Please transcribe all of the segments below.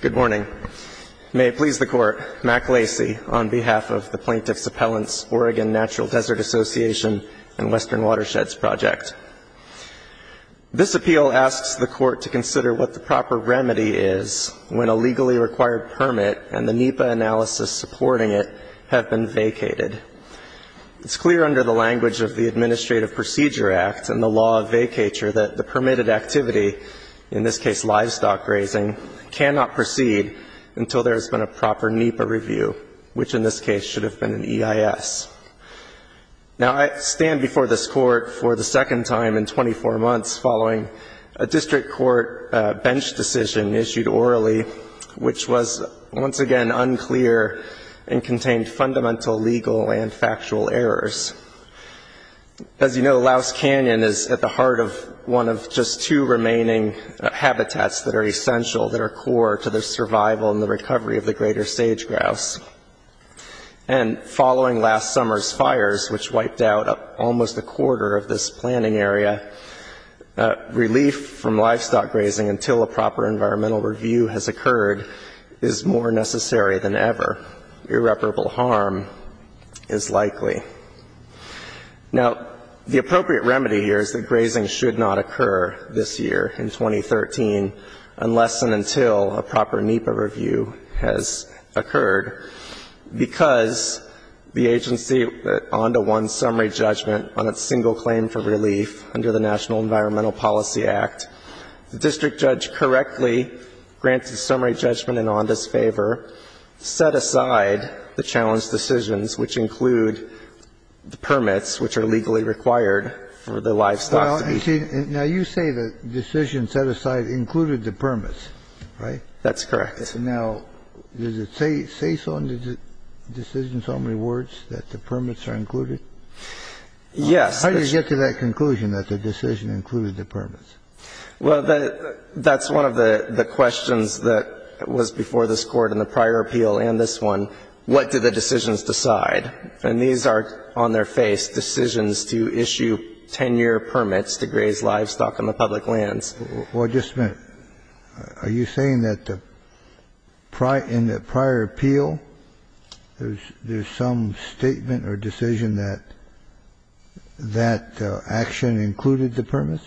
Good morning. May it please the Court, Mack Lacey, on behalf of the Plaintiff's Appellants, Oregon Natural Desert Association, and Western Watersheds Project. This appeal asks the Court to consider what the proper remedy is when a legally required permit and the NEPA analysis supporting it have been vacated. It's clear under the language of the Administrative Procedure Act and the law of vacature that the permitted activity, in this case livestock grazing, cannot proceed until there has been a proper NEPA review, which in this case should have been an EIS. Now, I stand before this Court for the second time in 24 months following a district court bench decision issued orally, which was once again unclear and contained fundamental legal and factual errors. As you know, Louse Canyon is at the heart of one of just two remaining habitats that are essential, that are core to the survival and the recovery of the greater sage-grouse. And following last summer's fires, which wiped out almost a quarter of this planting area, relief from livestock grazing until a proper environmental review has occurred is more necessary than ever. Irreparable harm is likely. Now, the appropriate remedy here is that grazing should not occur this year, in 2013, unless and until a proper NEPA review has occurred, because the agency, ONDA, won summary judgment on a single claim for relief under the National Environmental Policy Act. The district judge correctly granted summary judgment in ONDA's favor, set aside the challenge decisions, which include the permits which are legally required for the livestock to be used. Now, you say the decision set aside included the permits, right? That's correct. Now, does it say so in the decision summary words that the permits are included? Yes. How do you get to that conclusion that the decision included the permits? Well, that's one of the questions that was before this Court in the prior appeal and this one. What do the decisions decide? And these are, on their face, decisions to issue 10-year permits to graze livestock on the public lands. Well, just a minute. Are you saying that in the prior appeal, there's some statement or decision that that action included the permits?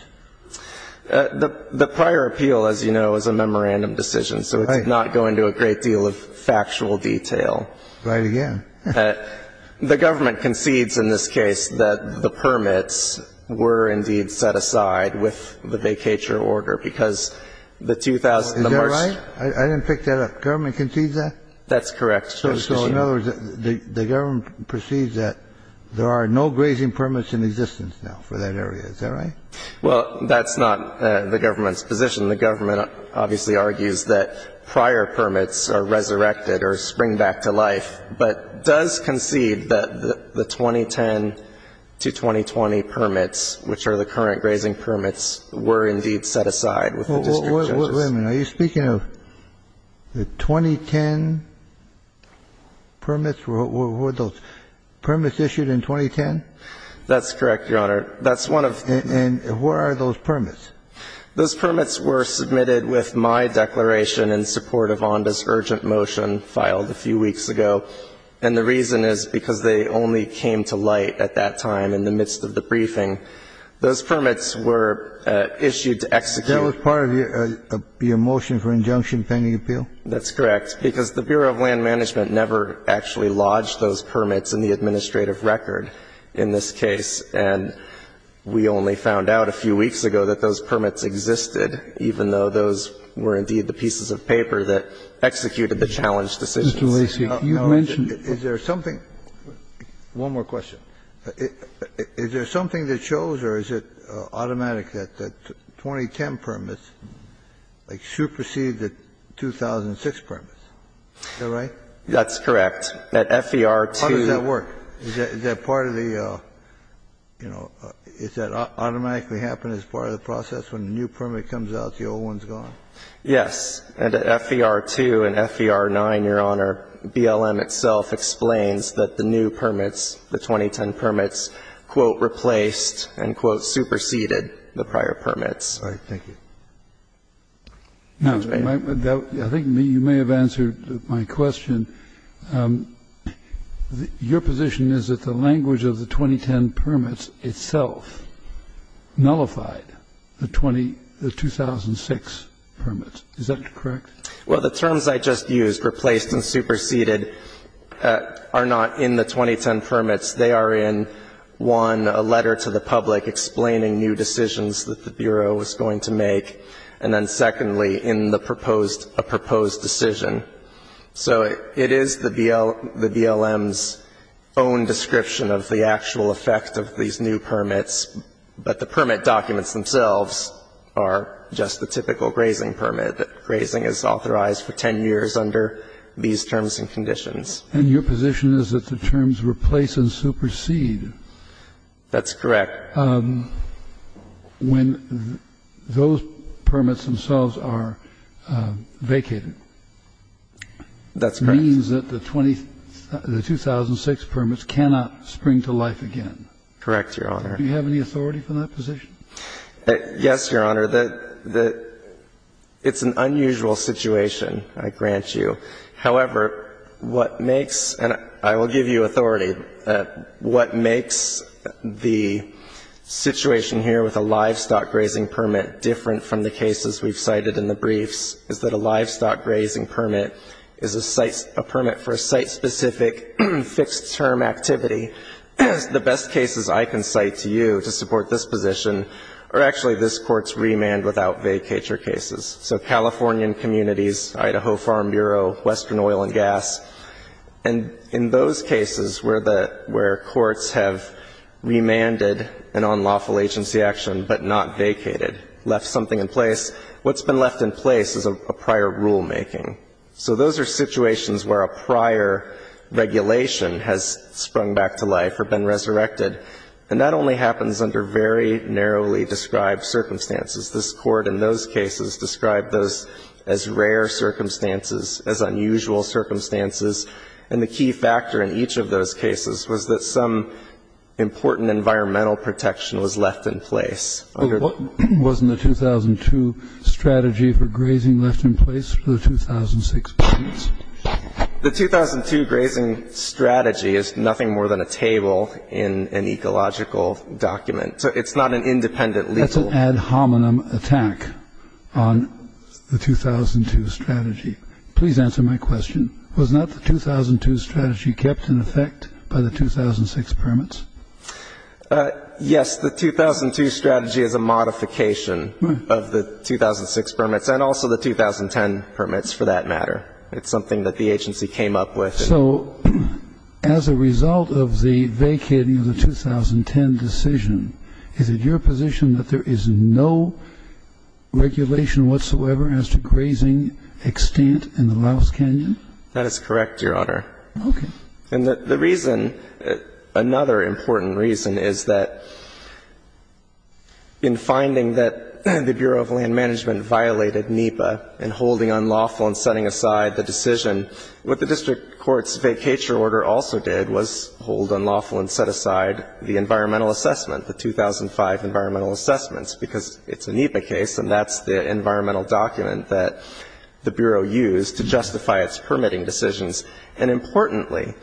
The prior appeal, as you know, is a memorandum decision, so it's not going to a great deal of factual detail. Right again. The government concedes in this case that the permits were indeed set aside with the vacature order, because the 2000, the March. Is that right? I didn't pick that up. The government concedes that? That's correct. So in other words, the government proceeds that there are no grazing permits in existence now for that area. Is that right? Well, that's not the government's position. The government obviously argues that prior permits are resurrected or spring back to life, but does concede that the 2010 to 2020 permits, which are the current grazing permits, were indeed set aside with the district judges? Wait a minute. Are you speaking of the 2010 permits? Were those permits issued in 2010? That's correct, Your Honor. That's one of the. And where are those permits? Those permits were submitted with my declaration in support of Onda's urgent motion filed a few weeks ago, and the reason is because they only came to light at that time in the midst of the briefing. Those permits were issued to execute. That was part of your motion for injunction pending appeal? That's correct, because the Bureau of Land Management never actually lodged those permits in the administrative record in this case. And we only found out a few weeks ago that those permits existed, even though those were indeed the pieces of paper that executed the challenge decisions. Mr. Lacy, you mentioned. Is there something one more question. Is there something that shows or is it automatic that the 2010 permits supersede the 2006 permits? Is that right? That's correct. At FER2. How does that work? Is that part of the, you know, does that automatically happen as part of the process? When a new permit comes out, the old one's gone? Yes. At FER2 and FER9, Your Honor, BLM itself explains that the new permits, the 2010 permits, quote, replaced and, quote, superseded the prior permits. All right. Thank you. Now, I think you may have answered my question. Your position is that the language of the 2010 permits itself nullified the 2006 permits. Is that correct? Well, the terms I just used, replaced and superseded, are not in the 2010 permits. They are in, one, a letter to the public explaining new decisions that the Bureau was going to make, and then, secondly, in the proposed, a proposed decision. So it is the BLM's own description of the actual effect of these new permits. But the permit documents themselves are just the typical grazing permit, that grazing is authorized for 10 years under these terms and conditions. And your position is that the terms replace and supersede. That's correct. When those permits themselves are vacated. That's correct. It means that the 2006 permits cannot spring to life again. Correct, Your Honor. Do you have any authority from that position? Yes, Your Honor. It's an unusual situation, I grant you. However, what makes, and I will give you authority, what makes the situation here with a livestock grazing permit different from the cases we've cited in the briefs is that a livestock grazing permit is a site, a permit for a site-specific fixed-term activity. The best cases I can cite to you to support this position are actually this Court's remand-without-vacature cases. So Californian communities, Idaho Farm Bureau, Western Oil and Gas. And in those cases where the, where courts have remanded an unlawful agency action but not vacated, left something in place, what's been left in place is a prior rulemaking. So those are situations where a prior regulation has sprung back to life or been resurrected. And that only happens under very narrowly described circumstances. This Court in those cases described those as rare circumstances, as unusual circumstances. And the key factor in each of those cases was that some important environmental protection was left in place. But what was in the 2002 strategy for grazing left in place for the 2006 cases? The 2002 grazing strategy is nothing more than a table in an ecological document. So it's not an independent legal. It's an ad hominem attack on the 2002 strategy. Please answer my question. Was not the 2002 strategy kept in effect by the 2006 permits? Yes. The 2002 strategy is a modification of the 2006 permits and also the 2010 permits for that matter. It's something that the agency came up with. So as a result of the vacating of the 2010 decision, is it your position that there is no regulation whatsoever as to grazing extent in the Laos Canyon? That is correct, Your Honor. Okay. And the reason, another important reason, is that in finding that the Bureau of Land Management violated NEPA in holding unlawful and setting aside the decision, what the district court's vacature order also did was hold unlawful and set aside the environmental assessment, the 2005 environmental assessments, because it's a NEPA case and that's the environmental document that the Bureau used to justify its permitting decisions. And importantly,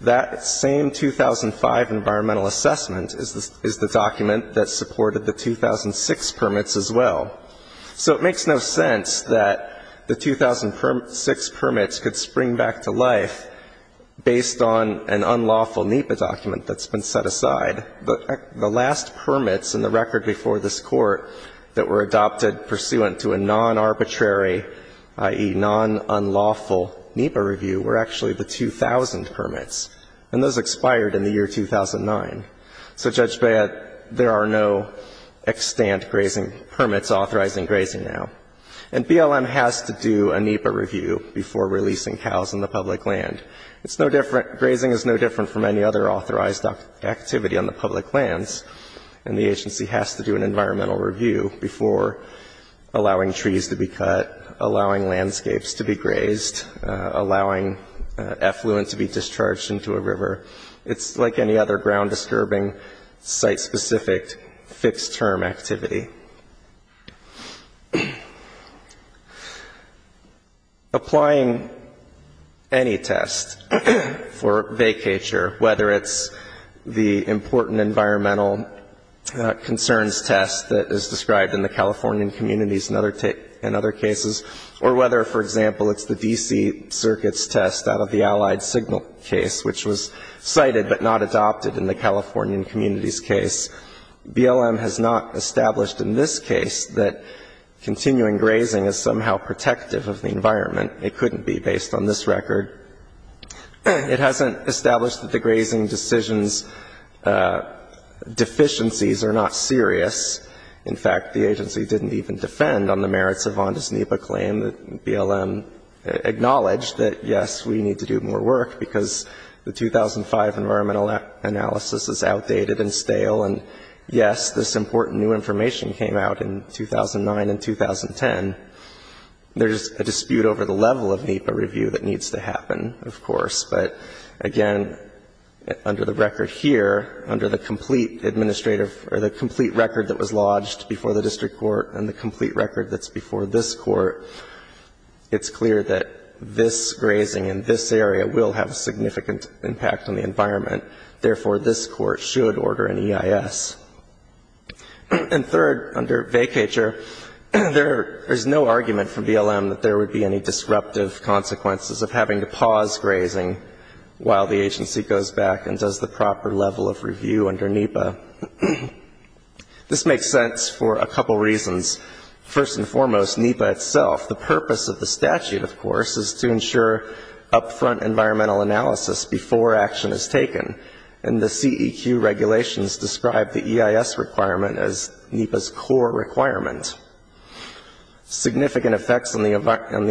that same 2005 environmental assessment is the document that supported the 2006 permits as well. So it makes no sense that the 2006 permits could spring back to life based on an unlawful NEPA review. And on the other side, the last permits in the record before this Court that were adopted pursuant to a non-arbitrary, i.e., non-unlawful NEPA review were actually the 2000 permits, and those expired in the year 2009. So, Judge Baird, there are no extent grazing permits authorizing grazing now. And BLM has to do a NEPA review before releasing cows in the public land. It's no different, grazing is no different from any other authorized activity on the public lands, and the agency has to do an environmental review before allowing trees to be cut, allowing landscapes to be grazed, allowing effluent to be discharged into a river. It's like any other ground-disturbing, site-specific, fixed-term activity. Applying any test for vacatur, whether it's the important environmental concerns test that is described in the Californian communities in other cases, or whether, for example, it's the D.C. Circuits test out of the Allied Signal case, which was cited but not adopted in the Californian communities case, BLM has not established in this case that continuing grazing is somehow protective of the environment. It couldn't be based on this record. It hasn't established that the grazing decision's deficiencies are not serious. In fact, the agency didn't even defend on the merits of Vonda's NEPA claim. BLM acknowledged that, yes, we need to do more work because the 2005 environmental analysis is outdated and stale. And, yes, this important new information came out in 2009 and 2010. There's a dispute over the level of NEPA review that needs to happen, of course. But, again, under the record here, under the complete administrative or the complete record that was lodged before the district court and the complete record that's before this court, it's clear that this grazing in this area will have a significant impact on the environment. Therefore, this court should order an EIS. And, third, under vacatur, there's no argument from BLM that there would be any disruptive consequences of having to pause grazing while the agency goes back and does the proper level of review under NEPA. This makes sense for a couple reasons. First and foremost, NEPA itself, the purpose of the statute, of course, is to ensure up-front environmental analysis before action is taken. And the CEQ regulations describe the EIS requirement as NEPA's core requirement. Significant effects on the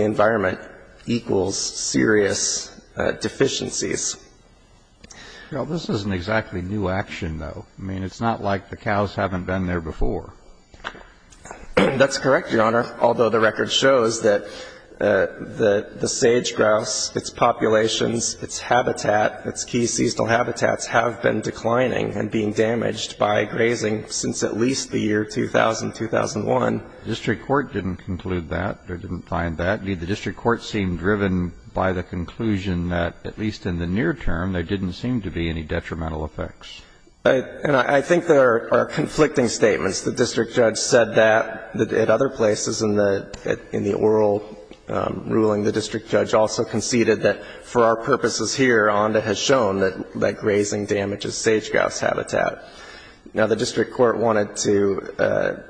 environment equals serious deficiencies. Well, this is an exactly new action, though. I mean, it's not like the cows haven't been there before. That's correct, Your Honor. Although the record shows that the sage-grouse, its populations, its habitat, its key seasonal habitats have been declining and being damaged by grazing since at least the year 2000-2001. The district court didn't conclude that or didn't find that. Indeed, the district court seemed driven by the conclusion that, at least in the near term, there didn't seem to be any detrimental effects. And I think there are conflicting statements. The district judge said that at other places in the oral ruling. The district judge also conceded that, for our purposes here, ONDA has shown that grazing damages sage-grouse habitat. Now, the district court wanted to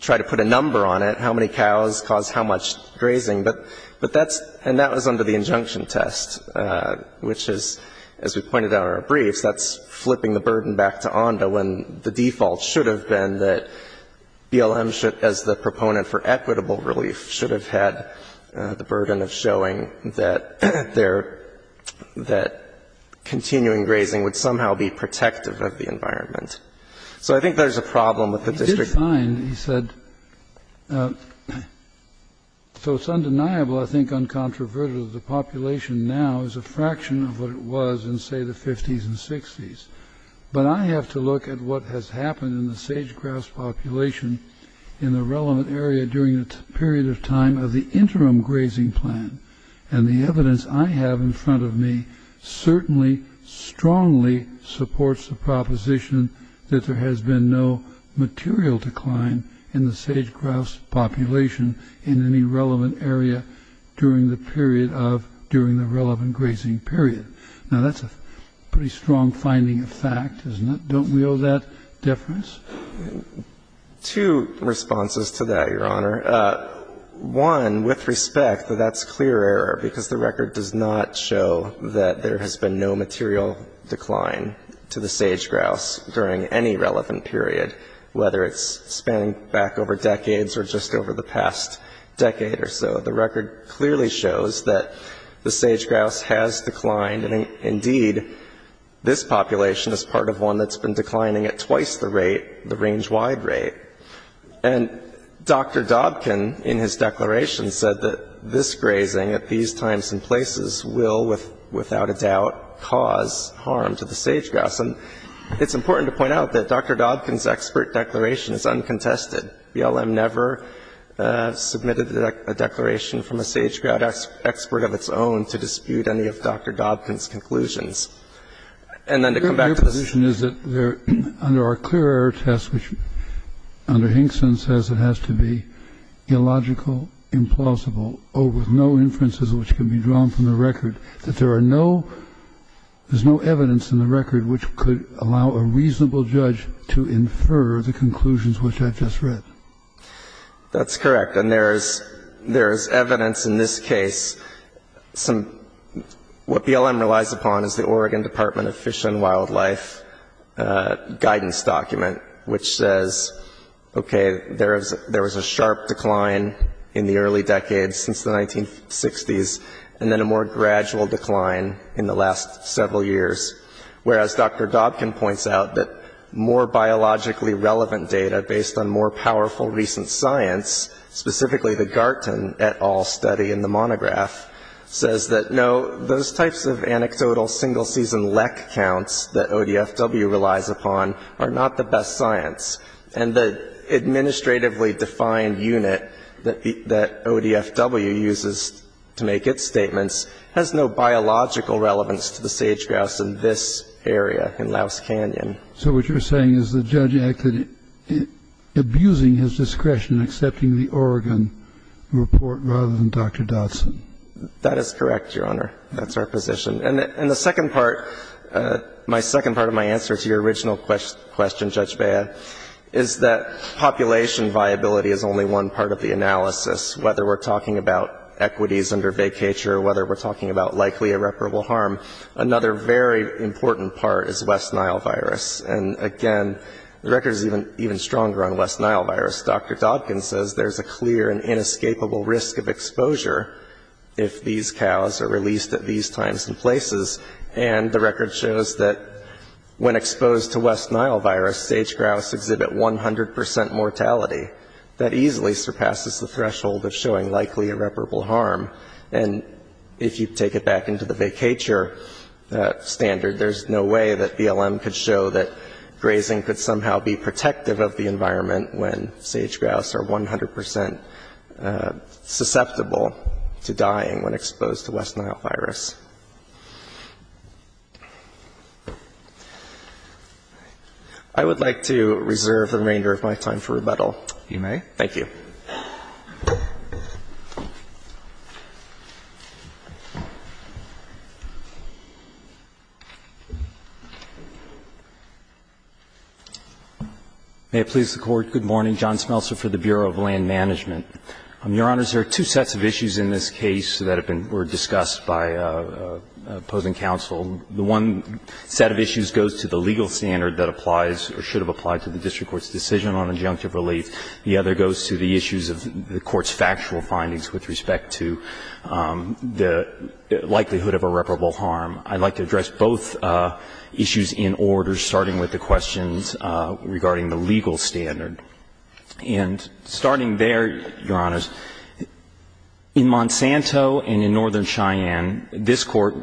try to put a number on it, how many cows cause how much grazing. But that's under the injunction test, which is, as we pointed out in our briefs, that's flipping the burden back to ONDA when the default should have been that BLM, as the proponent for equitable relief, should have had the burden of showing that continuing grazing would somehow be protective of the environment. So I think there's a problem with the district court. It did fine, he said. So it's undeniable, I think, uncontroverted, that the population now is a fraction of what it was in, say, the 50s and 60s. But I have to look at what has happened in the sage-grouse population in the relevant area during the period of time of the interim grazing plan. And the evidence I have in front of me certainly strongly supports the proposition that there has been no material decline in the sage-grouse population in any relevant area during the period of the relevant grazing period. Now, that's a pretty strong finding of fact, isn't it? Don't we owe that deference? Two responses to that, Your Honor. One, with respect, that that's clear error because the record does not show that there has been no material decline to the sage-grouse during any relevant period, whether it's spanning back over decades or just over the past decade or so. The record clearly shows that the sage-grouse has declined, and indeed this population is part of one that's been declining at twice the rate, the range-wide rate. And Dr. Dobkin, in his declaration, said that this grazing at these times and places will, without a doubt, cause harm to the sage-grouse. And it's important to point out that Dr. Dobkin's expert declaration is uncontested. BLM never submitted a declaration from a sage-grouse expert of its own to dispute any of Dr. Dobkin's conclusions. And then to come back to this ---- Your position is that under our clear error test, which under Hinkson says it has to be illogical, implausible, or with no inferences which can be drawn from the record, that there are no ---- there's no evidence in the record which could allow a reasonable judge to infer the conclusions which I've just read. That's correct. And there is evidence in this case. What BLM relies upon is the Oregon Department of Fish and Wildlife guidance document, which says, okay, there was a sharp decline in the early decades since the 1960s, and then a more gradual decline in the last several years. Whereas Dr. Dobkin points out that more biologically relevant data based on more powerful recent science, specifically the Garton et al. study in the monograph, says that no, those types of anecdotal single-season lek counts that ODFW relies upon are not the best science. And the administratively defined unit that ODFW uses to make its statements has no biological relevance to the sage-grouse in this area, in Louse Canyon. So what you're saying is the judge acted abusing his discretion in accepting the Oregon report rather than Dr. Dodson. That is correct, Your Honor. That's our position. And the second part, my second part of my answer to your original question, Judge Bea, is that population viability is only one part of the analysis, whether we're talking about equities under vacatur, whether we're talking about likely irreparable harm. Another very important part is West Nile virus. And again, the record is even stronger on West Nile virus. Dr. Dodkin says there's a clear and inescapable risk of exposure if these cows are released at these times and places. And the record shows that when exposed to West Nile virus, sage-grouse exhibit 100 percent mortality. That easily surpasses the threshold of showing likely irreparable harm. And if you take it back into the vacatur standard, there's no way that BLM could show that grazing could somehow be protective of the environment when sage-grouse are 100 percent susceptible to dying when exposed to West Nile virus. I would like to reserve the remainder of my time for rebuttal. You may. Thank you. May it please the Court. Good morning. John Smeltzer for the Bureau of Land Management. Your Honors, there are two sets of issues in this case that have been or were discussed by opposing counsel. The one set of issues goes to the legal standard that applies or should have applied to the district court's decision on injunctive relief. The other goes to the issues of the court's factual findings with respect to the likelihood of irreparable harm. I'd like to address both issues in order, starting with the questions regarding the legal standard. And starting there, Your Honors, in Monsanto and in Northern Cheyenne, this Court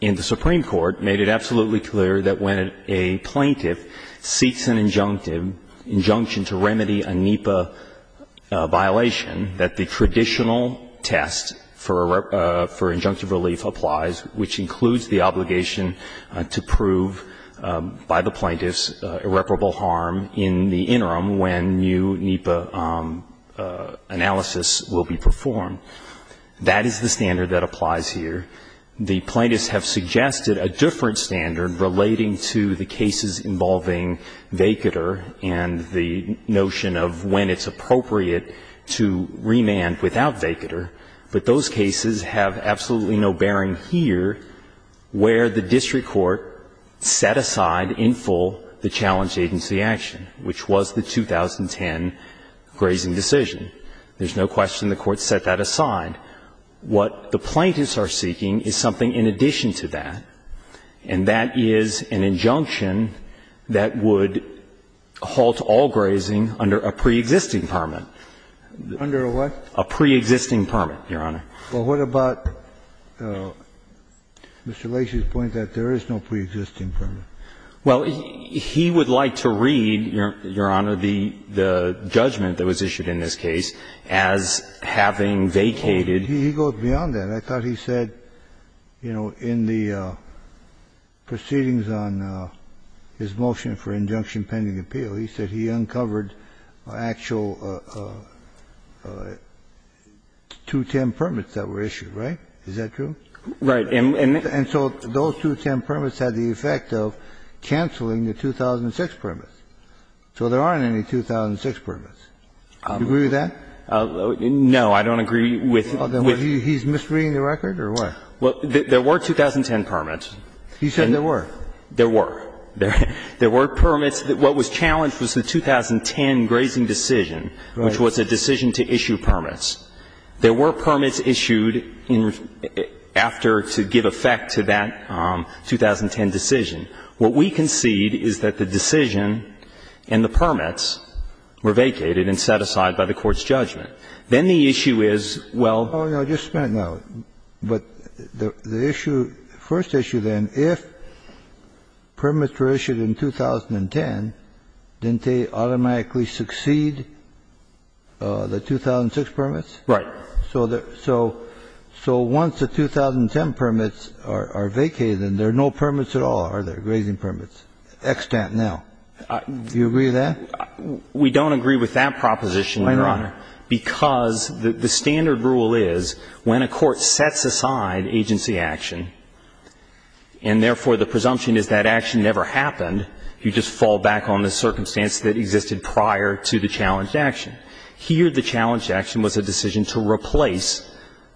in the Supreme Court made it absolutely clear that when a plaintiff seeks an injunction to remedy a NEPA violation, that the traditional test for injunctive relief applies, which includes the obligation to prove by the plaintiff's irreparable harm in the interim when new NEPA analysis will be performed. That is the standard that applies here. The plaintiffs have suggested a different standard relating to the cases involving vacatur and the notion of when it's appropriate to remand without vacatur. But those cases have absolutely no bearing here where the district court set aside in full the challenge agency action, which was the 2010 grazing decision. There's no question the Court set that aside. What the plaintiffs are seeking is something in addition to that, and that is an injunction that would halt all grazing under a preexisting permit. Under a what? A preexisting permit, Your Honor. Well, what about Mr. Lacey's point that there is no preexisting permit? Well, he would like to read, Your Honor, the judgment that was issued in this case as having vacated. He goes beyond that. I thought he said, you know, in the proceedings on his motion for injunction pending appeal, he said he uncovered actual 210 permits that were issued, right? Is that true? Right. And so those 210 permits had the effect of canceling the 2006 permits. So there aren't any 2006 permits. Do you agree with that? No, I don't agree with that. He's misreading the record or what? Well, there were 2010 permits. He said there were. There were. There were permits. What was challenged was the 2010 grazing decision, which was a decision to issue permits. There were permits issued after to give effect to that 2010 decision. What we concede is that the decision and the permits were vacated and set aside by the Court's judgment. Then the issue is, well the issue, first issue then, if permits were issued in 2010, didn't they automatically succeed the 2006 permits? Right. So once the 2010 permits are vacated, then there are no permits at all, are there, grazing permits? Extant now. Do you agree with that? We don't agree with that proposition, Your Honor, because the standard rule is when a court sets aside agency action and therefore the presumption is that action never happened, you just fall back on the circumstance that existed prior to the challenged action. Here the challenged action was a decision to replace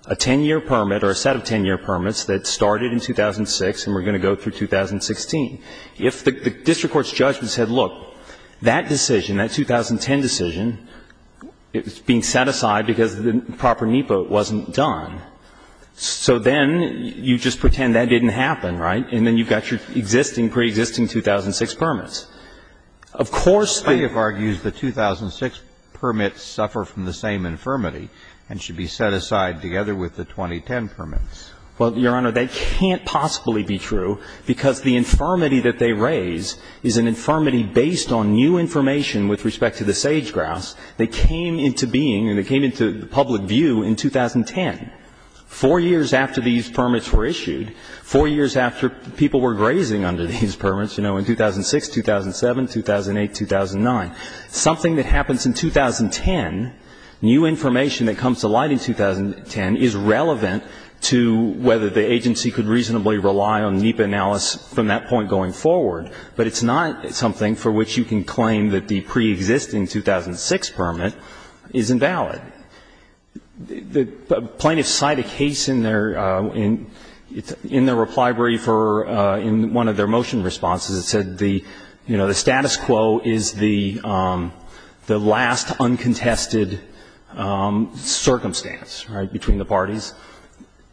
a 10-year permit or a set of 10-year permits that started in 2006 and were going to go through 2016. If the district court's judgment said, look, that decision, that 2010 decision, it's being set aside because the proper NEPA wasn't done, so then you just pretend that didn't happen, right? And then you've got your existing, pre-existing 2006 permits. Of course the ---- The plaintiff argues the 2006 permits suffer from the same infirmity and should be set aside together with the 2010 permits. Well, Your Honor, that can't possibly be true, because the infirmity that they raise is an infirmity based on new information with respect to the sage-grouse that came into being and that came into public view in 2010. Four years after these permits were issued, four years after people were grazing under these permits, you know, in 2006, 2007, 2008, 2009, something that happens in 2010, new information that comes to light in 2010 is relevant to whether the agency could reasonably rely on NEPA analysis from that point going forward, but it's not something for which you can claim that the pre-existing 2006 permit is invalid. The plaintiffs cite a case in their reply brief or in one of their motion responses that said the, you know, the status quo is the last uncontested circumstance, right, between the parties.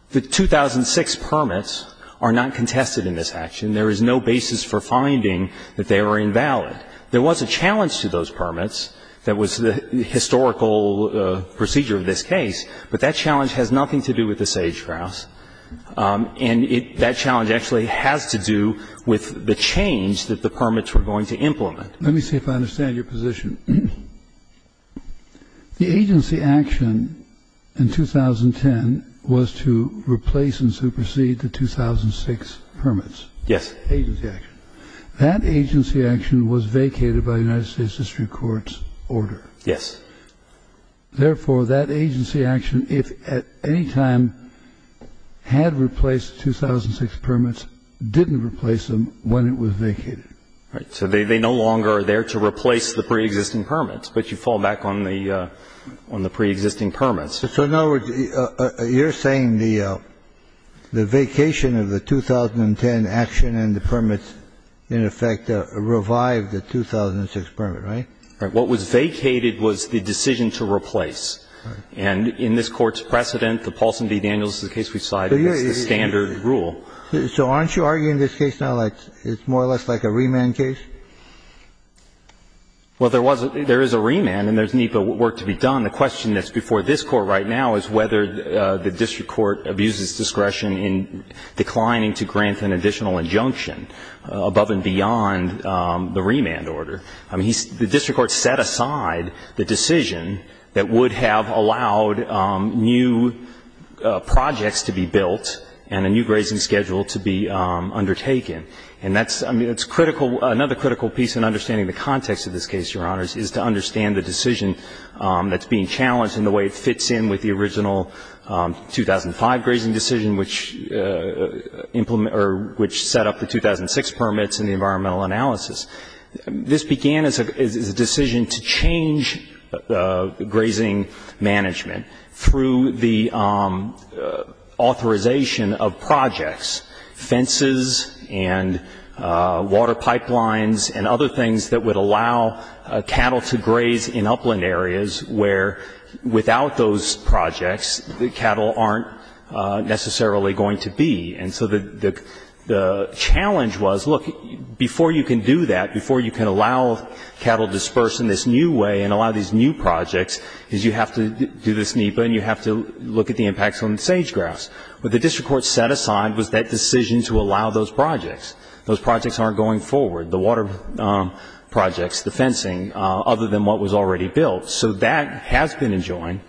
The 2006 permits are not contested in this action. There is no basis for finding that they were invalid. There was a challenge to those permits that was the historical procedure of this case, but that challenge has nothing to do with the sage-grouse, and that challenge actually has to do with the change that the permits were going to implement. Let me see if I understand your position. The agency action in 2010 was to replace and supersede the 2006 permits. Yes. Agency action. That agency action was vacated by the United States district court's order. Yes. Therefore, that agency action, if at any time had replaced 2006 permits, didn't replace them when it was vacated. Right. So they no longer are there to replace the pre-existing permits, but you fall back on the pre-existing permits. So in other words, you're saying the vacation of the 2010 action and the permits in effect revived the 2006 permit, right? Right. What was vacated was the decision to replace. Right. And in this Court's precedent, the Paulson v. Daniels is the case we cited as the standard rule. So aren't you arguing this case now like it's more or less like a remand case? The question that's before this Court right now is whether the district court abuses discretion in declining to grant an additional injunction above and beyond the remand order. I mean, the district court set aside the decision that would have allowed new projects to be built and a new grazing schedule to be undertaken. And that's critical. Another critical piece in understanding the context of this case, Your Honors, is to be challenged in the way it fits in with the original 2005 grazing decision, which set up the 2006 permits and the environmental analysis. This began as a decision to change grazing management through the authorization of projects, fences and water pipelines and other things that would allow cattle to graze in upland areas where, without those projects, the cattle aren't necessarily going to be. And so the challenge was, look, before you can do that, before you can allow cattle dispersed in this new way and allow these new projects, is you have to do this NEPA and you have to look at the impacts on the sage grass. What the district court set aside was that decision to allow those projects. Those projects aren't going forward, the water projects, the fencing, other than what was already built. So that has been enjoined.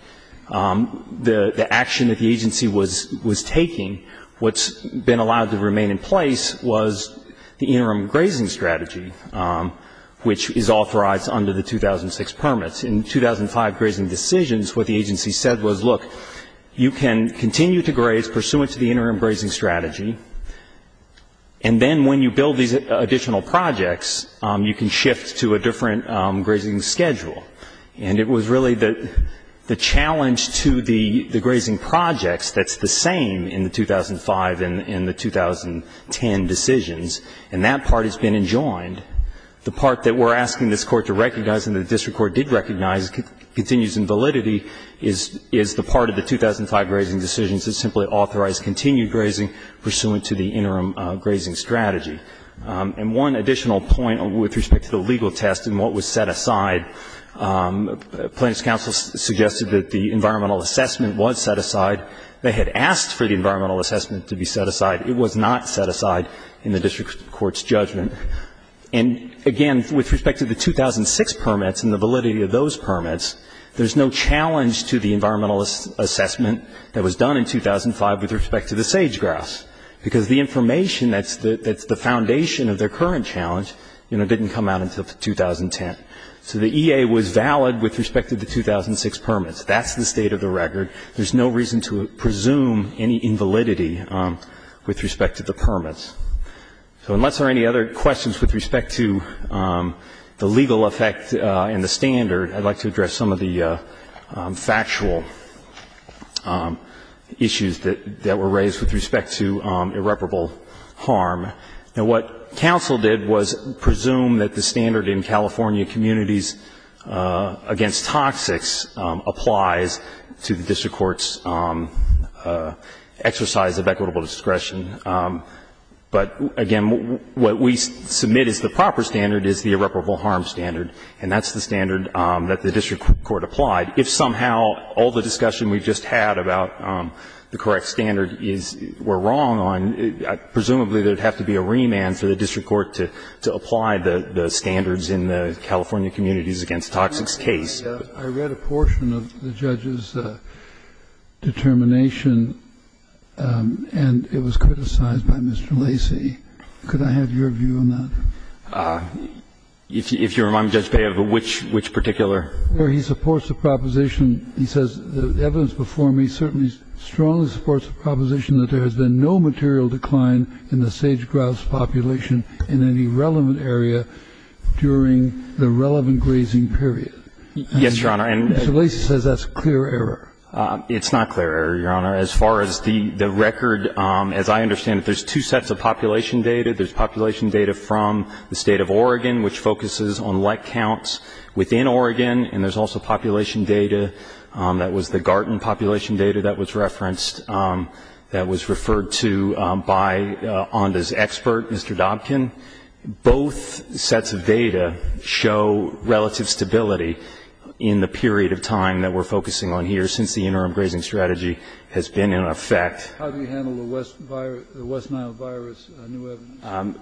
The action that the agency was taking, what's been allowed to remain in place, was the interim grazing strategy, which is authorized under the 2006 permits. In 2005 grazing decisions, what the agency said was, look, you can continue to graze pursuant to the interim grazing strategy, and then when you build these additional projects, you can shift to a different grazing schedule. And it was really the challenge to the grazing projects that's the same in the 2005 and the 2010 decisions, and that part has been enjoined. The part that we're asking this court to recognize and the district court did recognize continues in validity is the part of the 2005 grazing decisions that simply authorize continued grazing pursuant to the interim grazing strategy. And one additional point with respect to the legal test and what was set aside, plaintiff's counsel suggested that the environmental assessment was set aside. They had asked for the environmental assessment to be set aside. It was not set aside in the district court's judgment. And, again, with respect to the 2006 permits and the validity of those permits, there's no challenge to the environmental assessment that was done in 2005 with respect to the current challenge didn't come out until 2010. So the EA was valid with respect to the 2006 permits. That's the state of the record. There's no reason to presume any invalidity with respect to the permits. So unless there are any other questions with respect to the legal effect and the standard, I'd like to address some of the factual issues that were raised with respect to irreparable harm. Now, what counsel did was presume that the standard in California communities against toxics applies to the district court's exercise of equitable discretion. But, again, what we submit as the proper standard is the irreparable harm standard, and that's the standard that the district court applied. If somehow all the discussion we've just had about the correct standard were wrong, presumably there would have to be a remand for the district court to apply the standards in the California communities against a toxics case. Kennedy. I read a portion of the judge's determination, and it was criticized by Mr. Lacey. Could I have your view on that? If you remind me, Judge Bea, of which particular? Where he supports the proposition. He says the evidence before me certainly strongly supports the proposition that there has been no material decline in the sage-grouse population in any relevant area during the relevant grazing period. Yes, Your Honor. Mr. Lacey says that's clear error. It's not clear error, Your Honor. As far as the record, as I understand it, there's two sets of population data. There's population data from the state of Oregon, which focuses on like counts within Oregon, and there's also population data that was the Garton population data that was referenced that was referred to by Onda's expert, Mr. Dobkin. Both sets of data show relative stability in the period of time that we're focusing on here since the interim grazing strategy has been in effect. How do you handle the West Nile virus new evidence?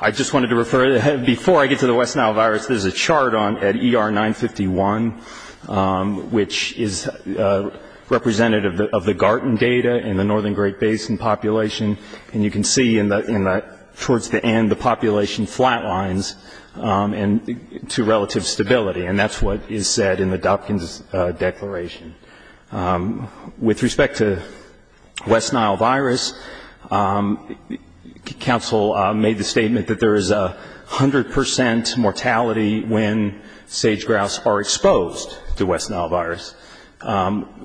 I just wanted to refer, before I get to the West Nile virus, there's a chart at ER 951, which is representative of the Garton data in the northern Great Basin population, and you can see towards the end the population flatlines to relative stability, and that's what is said in the Dobkin's declaration. With respect to West Nile virus, counsel made the statement that there is 100 percent mortality when sage-grouse are exposed to West Nile virus.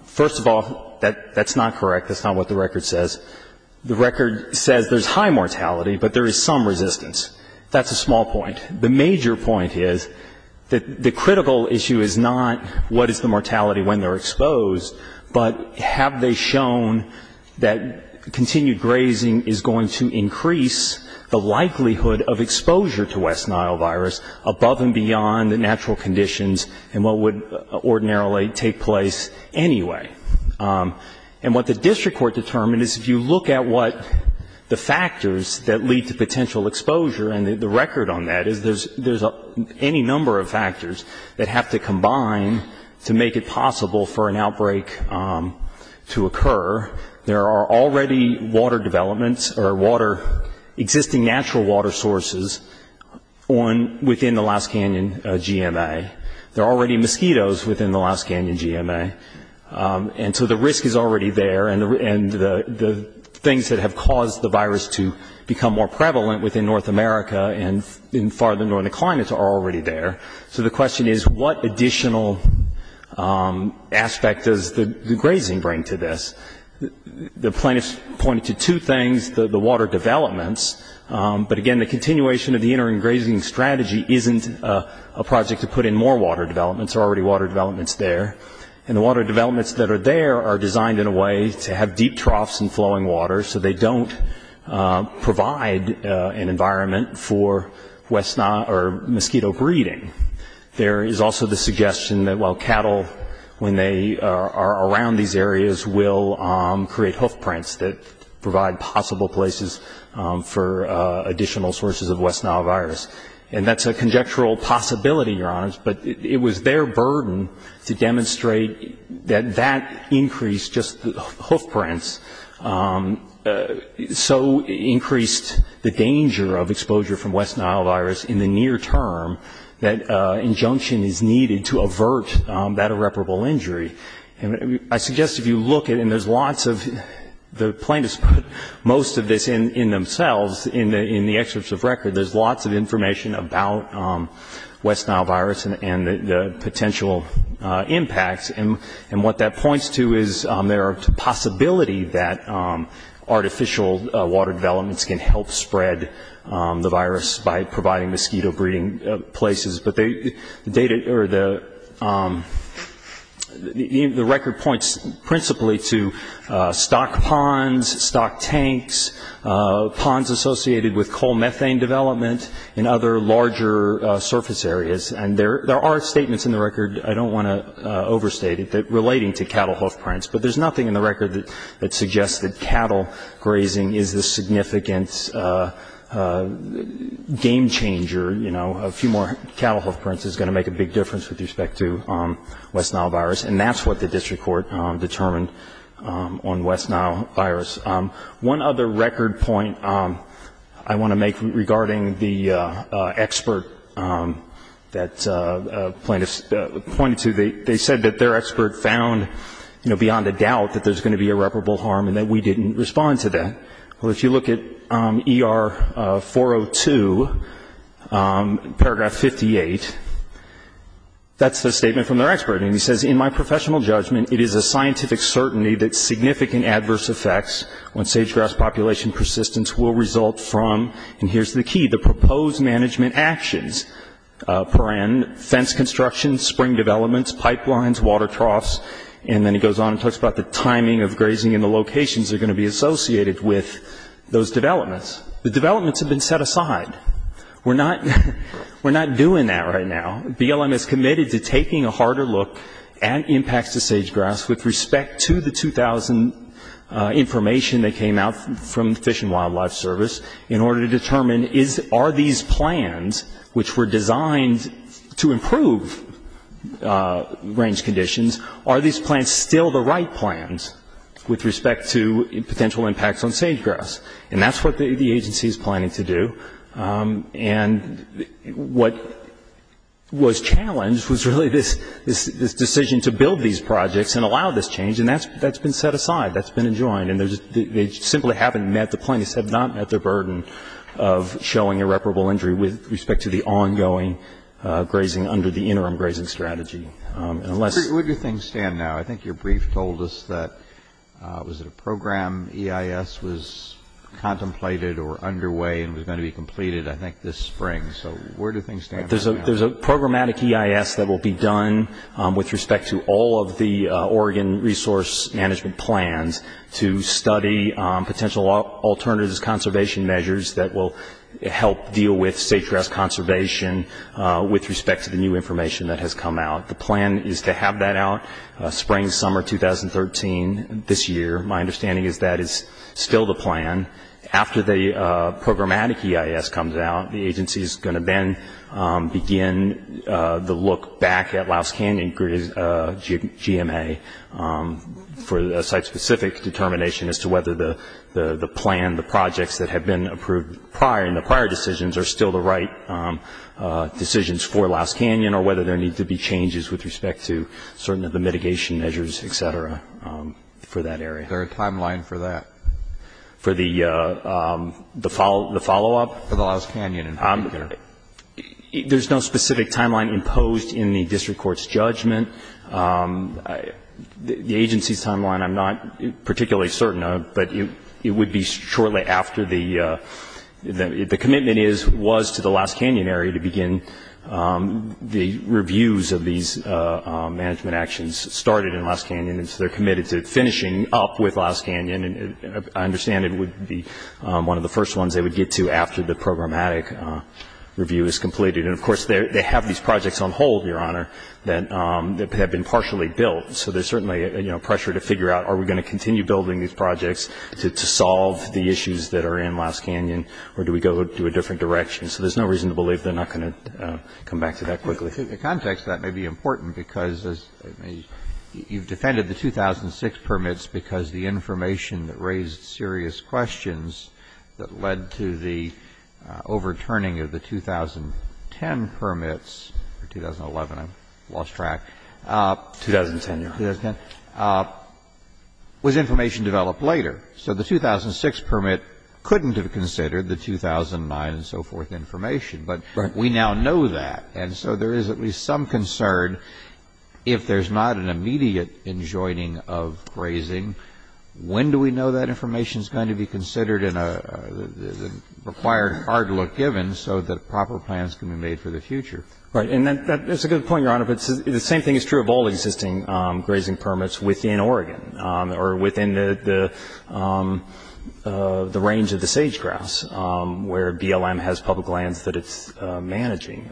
First of all, that's not correct. That's not what the record says. The record says there's high mortality, but there is some resistance. That's a small point. The major point is that the critical issue is not what is the mortality when they're exposed, but have they shown that continued grazing is going to increase the likelihood of exposure to West Nile virus above and beyond the natural conditions and what would ordinarily take place anyway. And what the district court determined is if you look at what the factors that lead to potential exposure, and the record on that is there's any number of factors that have to combine to make it possible for an outbreak to occur. There are already water developments or existing natural water sources within the Alaskan GMA. There are already mosquitoes within the Alaskan GMA, and so the risk is already there, and the things that have caused the virus to become more prevalent within North America and in farther northern climates are already there. So the question is what additional aspect does the grazing bring to this? The plaintiffs pointed to two things, the water developments, but again, the continuation of the interim grazing strategy isn't a project to put in more water developments. There are already water developments there, and the water developments that are there are designed in a way to have deep troughs and flowing water, so they don't provide an environment for mosquito breeding. There is also the suggestion that while cattle, when they are around these areas, will create hoof prints that provide possible places for additional sources of West Nile virus. And that's a conjectural possibility, Your Honors, but it was their burden to demonstrate that that increase, just the hoof prints, so increased the danger of exposure from West Nile virus in the near term that injunction is needed to avert that irreparable injury. And I suggest if you look at, and there's lots of, the plaintiffs put most of this in themselves, in the excerpts of record, there's lots of information about West Nile virus and the potential impacts, and what that points to is there's a possibility that artificial water developments can help spread the virus by providing mosquito breeding places, but the data, or the record points principally to stock ponds, stock tanks, ponds associated with coal methane development, and other larger surface areas. And there are statements in the record, I don't want to overstate it, that relating to cattle hoof prints, but there's nothing in the record that suggests that cattle grazing is the significant, game changer, a few more cattle hoof prints is going to make a big difference with respect to West Nile virus, and that's what the district court determined on West Nile virus. One other record point I want to make regarding the expert that plaintiffs pointed to, they said that their expert found beyond a doubt that there's going to be irreparable harm and that we didn't respond to that. Well, if you look at ER 402, paragraph 58, that's the statement from their expert, and he says, in my professional judgment, it is a scientific certainty that significant adverse effects on sage-grass population persistence will result from, and here's the key, the proposed management actions, fence construction, spring developments, pipelines, water troughs, and then he goes on and talks about the timing of grazing and the locations that are going to be associated with those developments. The developments have been set aside. We're not doing that right now. BLM is committed to taking a harder look at impacts to sage-grass with respect to the 2000 information that came out from the Fish and Wildlife Service in order to determine are these plans, which were designed to improve range conditions, are these plans still the right plans with respect to potential impacts on sage-grass? And that's what the agency is planning to do, and what was challenged was really this decision to build these projects and allow this change, and that's been set aside. That's been enjoined. And they simply haven't met, the plaintiffs have not met their burden of showing irreparable injury with respect to the ongoing grazing under the interim grazing strategy. Where do things stand now? I think your brief told us that, was it a program EIS was contemplated or underway and was going to be completed, I think, this spring, so where do things stand right now? There's a programmatic EIS that will be done with respect to all of the Oregon resource management plans to study potential alternatives, conservation measures that will help deal with sage-grass conservation with respect to the new information that has come out. The plan is to have that out spring, summer 2013, this year. My understanding is that is still the plan. After the programmatic EIS comes out, the agency is going to then begin the look back at Louse Canyon GMA for a site-specific determination as to whether the plan, the projects that have been approved prior and the prior decisions are still the right decisions for Louse Canyon or whether there need to be changes with respect to certain of the mitigation measures, et cetera, for that area. Is there a timeline for that? For the follow-up? There's no specific timeline imposed in the district court's judgment. The agency's timeline I'm not particularly certain of, but it would be shortly after the commitment was to the Louse Canyon area to begin the reviews of these management actions started in Louse Canyon and so they're committed to finishing up with Louse Canyon and I understand it would be one of the first ones they would get to after the programmatic review is completed. And, of course, they have these projects on hold, Your Honor, that have been partially built, so there's certainly pressure to figure out are we going to continue building these projects to solve the issues that are in Louse Canyon or do we go to a different direction. So there's no reason to believe they're not going to come back to that quickly. In the context, that may be important, because you've defended the 2006 permits because the information that raised serious questions that led to the overturning of the 2010 permits, or 2011, I lost track. 2010, Your Honor. Was information developed later. So the 2006 permit couldn't have considered the 2009 and so forth information, but we now know that. And so there is at least some concern if there's not an immediate enjoining of grazing, when do we know that information is going to be considered in a required hard look given so that proper plans can be made for the future. Right. And that's a good point, Your Honor, but the same thing is true of all existing grazing permits within Oregon or within the range of the sage grass where BLM has public lands that it's managing.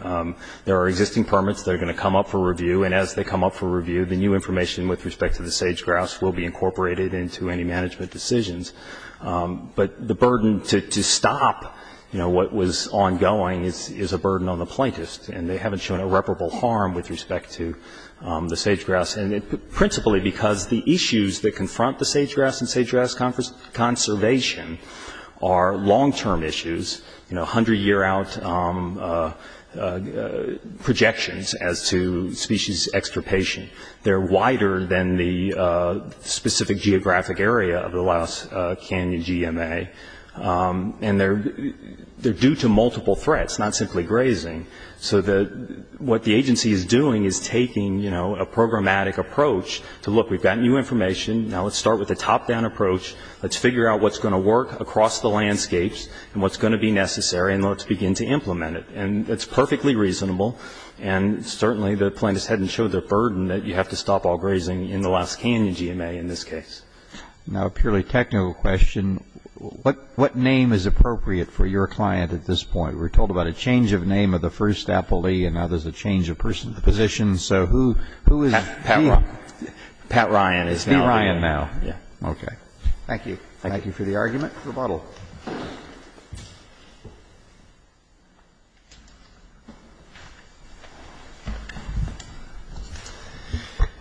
There are existing permits that are going to come up for review, and as they come up for review, the new information with respect to the sage grass will be incorporated into any management decisions. But the burden to stop what was ongoing is a burden on the plaintiffs, and they haven't shown irreparable harm with respect to the sage grass, principally because the issues that confront the sage grass and sage grass conservation are long-term issues. You know, 100-year-out projections as to species extirpation. They're wider than the specific geographic area of the Lost Canyon GMA, and they're due to multiple threats, not simply grazing. So what the agency is doing is taking, you know, a programmatic approach to, look, we've got new information, now let's start with a top-down approach, let's figure out what's going to work across the landscapes and what's going to be necessary, and let's begin to implement it. And it's perfectly reasonable, and certainly the plaintiffs hadn't showed their burden that you have to stop all grazing in the Lost Canyon GMA in this case. Now, a purely technical question. What name is appropriate for your client at this point? We're told about a change of name of the first appellee, and now there's a change of position. So who is V. Pat Ryan. Pat Ryan is now. It's V. Ryan now. Yeah. Okay. Thank you. Thank you for the argument. The bottle.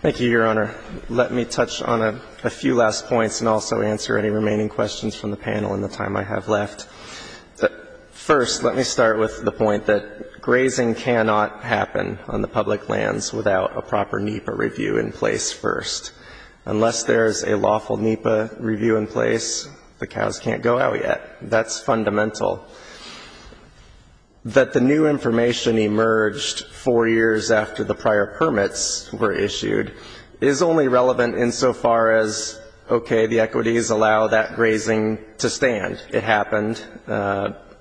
Thank you, Your Honor. Let me touch on a few last points and also answer any remaining questions from the panel in the time I have left. First, let me start with the point that grazing cannot happen on the public lands without a proper NEPA review in place first. Unless there's a lawful NEPA review in place, the cows can't go out yet. That's fundamental. That the new information emerged four years after the prior permits were issued is only relevant insofar as, okay, the equities allow that grazing to stand. It happened.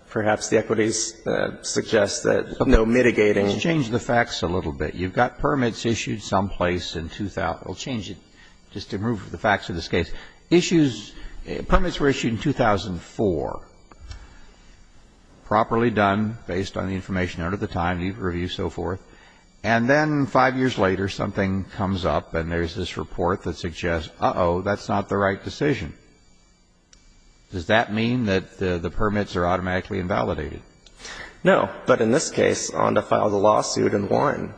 Perhaps the equities suggest that no mitigating. Let's change the facts a little bit. You've got permits issued someplace in 2000. We'll change it just to move the facts of this case. Permits were issued in 2004. Properly done based on the information out at the time, NEPA review and so forth. And then five years later, something comes up and there's this report that suggests, uh-oh, that's not the right decision. Does that mean that the permits are automatically invalidated? No. But in this case, ONDA filed a lawsuit and won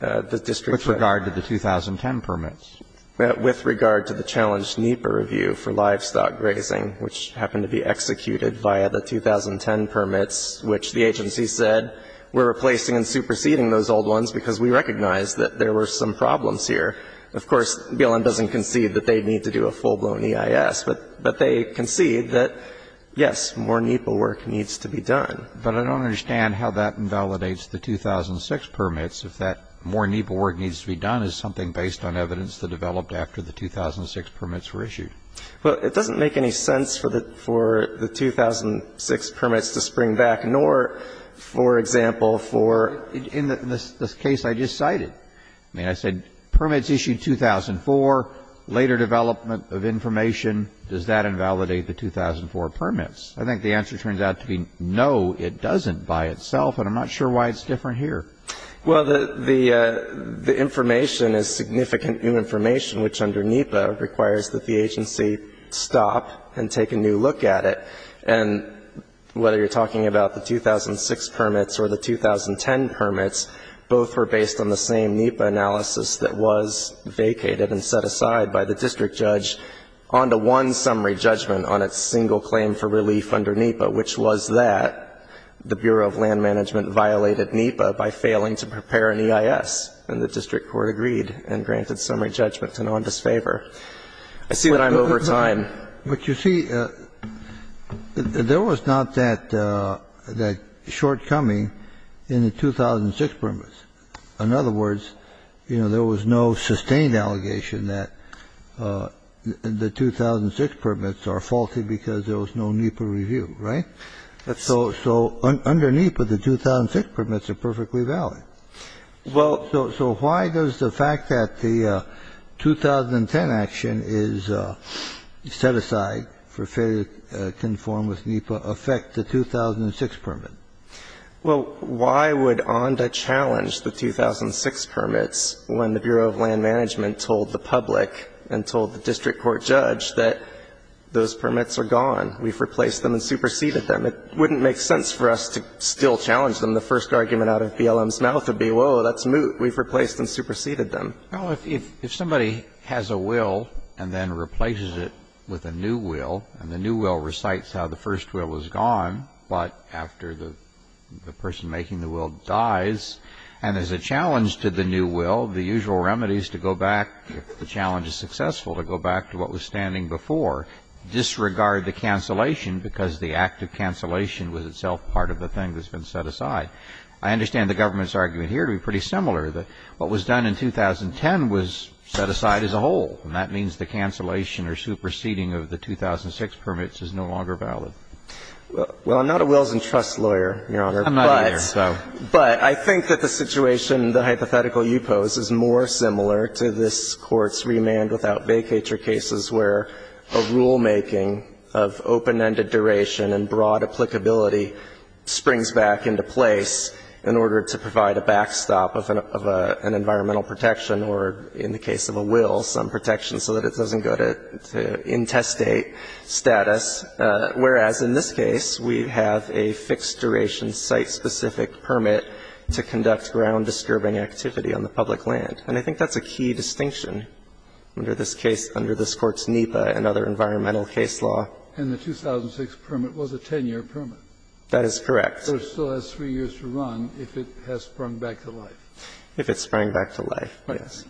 the district. With regard to the 2010 permits. With regard to the challenged NEPA review for livestock grazing, which happened to be executed via the 2010 permits, which the agency said we're replacing and superseding those old ones because we recognize that there were some problems here. Of course, BLM doesn't concede that they need to do a full-blown EIS. But they concede that, yes, more NEPA work needs to be done. But I don't understand how that invalidates the 2006 permits. If that more NEPA work needs to be done is something based on evidence that developed after the 2006 permits were issued. Well, it doesn't make any sense for the 2006 permits to spring back, nor, for example, for the case I just cited. I mean, I said permits issued in 2004, later development of information. Does that invalidate the 2004 permits? I think the answer turns out to be no, it doesn't by itself. And I'm not sure why it's different here. Well, the information is significant new information, which under NEPA requires that the agency stop and take a new look at it. And whether you're talking about the 2006 permits or the 2010 permits, both were based on the same NEPA analysis that was vacated and set aside by the district judge on to one summary judgment on its single claim for relief under NEPA, which was that the Bureau of Land Management violated NEPA by failing to prepare an EIS. And the district court agreed and granted summary judgment to none disfavor. I see that I'm over time. But you see, there was not that shortcoming in the 2006 permits. In other words, you know, there was no sustained allegation that the 2006 permits are faulty because there was no NEPA review, right? So under NEPA, the 2006 permits are perfectly valid. Well, so why does the fact that the 2010 action is set aside for failure to conform with NEPA affect the 2006 permit? Well, why would ONDA challenge the 2006 permits when the Bureau of Land Management told the public and told the district court judge that those permits are gone, we've replaced them and superseded them? It wouldn't make sense for us to still challenge them. The first argument out of BLM's mouth would be, whoa, that's moot. We've replaced and superseded them. Well, if somebody has a will and then replaces it with a new will, and the new will recites how the first will was gone, but after the person making the will dies, and there's a challenge to the new will, the usual remedy is to go back, if the challenge is successful, to go back to what was standing before. Disregard the cancellation because the act of cancellation was itself part of the thing that's been set aside. I understand the government's argument here to be pretty similar, that what was done in 2010 was set aside as a whole. And that means the cancellation or superseding of the 2006 permits is no longer valid. Well, I'm not a wills and trusts lawyer, Your Honor. I'm not either. But I think that the situation, the hypothetical you pose, is more similar to this Court's remand without vacatur cases where a rulemaking of open-ended duration and broad applicability springs back into place in order to provide a backstop of an environmental protection or, in the case of a will, some protection so that it doesn't go to intestate status, whereas in this case we have a fixed-duration, site-specific permit to conduct ground-disturbing activity on the public land. And I think that's a key distinction under this case, under this Court's NEPA and other environmental case law. And the 2006 permit was a 10-year permit. That is correct. So it still has three years to run if it has sprung back to life. If it sprung back to life, yes.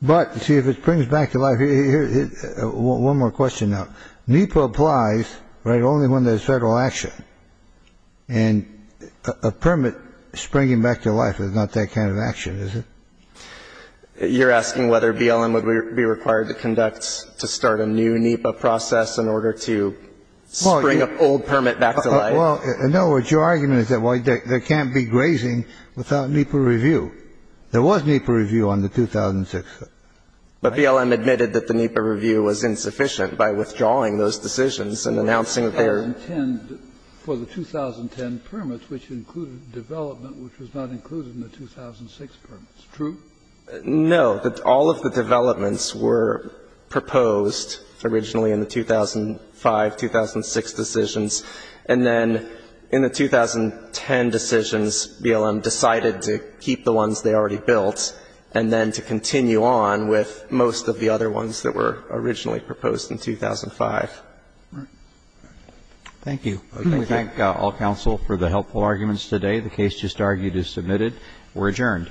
But, see, if it springs back to life, here's one more question now. NEPA applies, right, only when there's Federal action. And a permit springing back to life is not that kind of action, is it? You're asking whether BLM would be required to conduct, to start a new NEPA process in order to spring an old permit back to life? Well, no. What's your argument is that there can't be grazing without NEPA review. There was NEPA review on the 2006. But BLM admitted that the NEPA review was insufficient by withdrawing those decisions and announcing that there were. For the 2010 permit, which included development which was not included in the 2006 permit. True? No. All of the developments were proposed originally in the 2005, 2006 decisions. And then in the 2010 decisions, BLM decided to keep the ones they already built, and then to continue on with most of the other ones that were originally proposed in 2005. Thank you. We thank all counsel for the helpful arguments today. The case just argued is submitted. We're adjourned. All rise.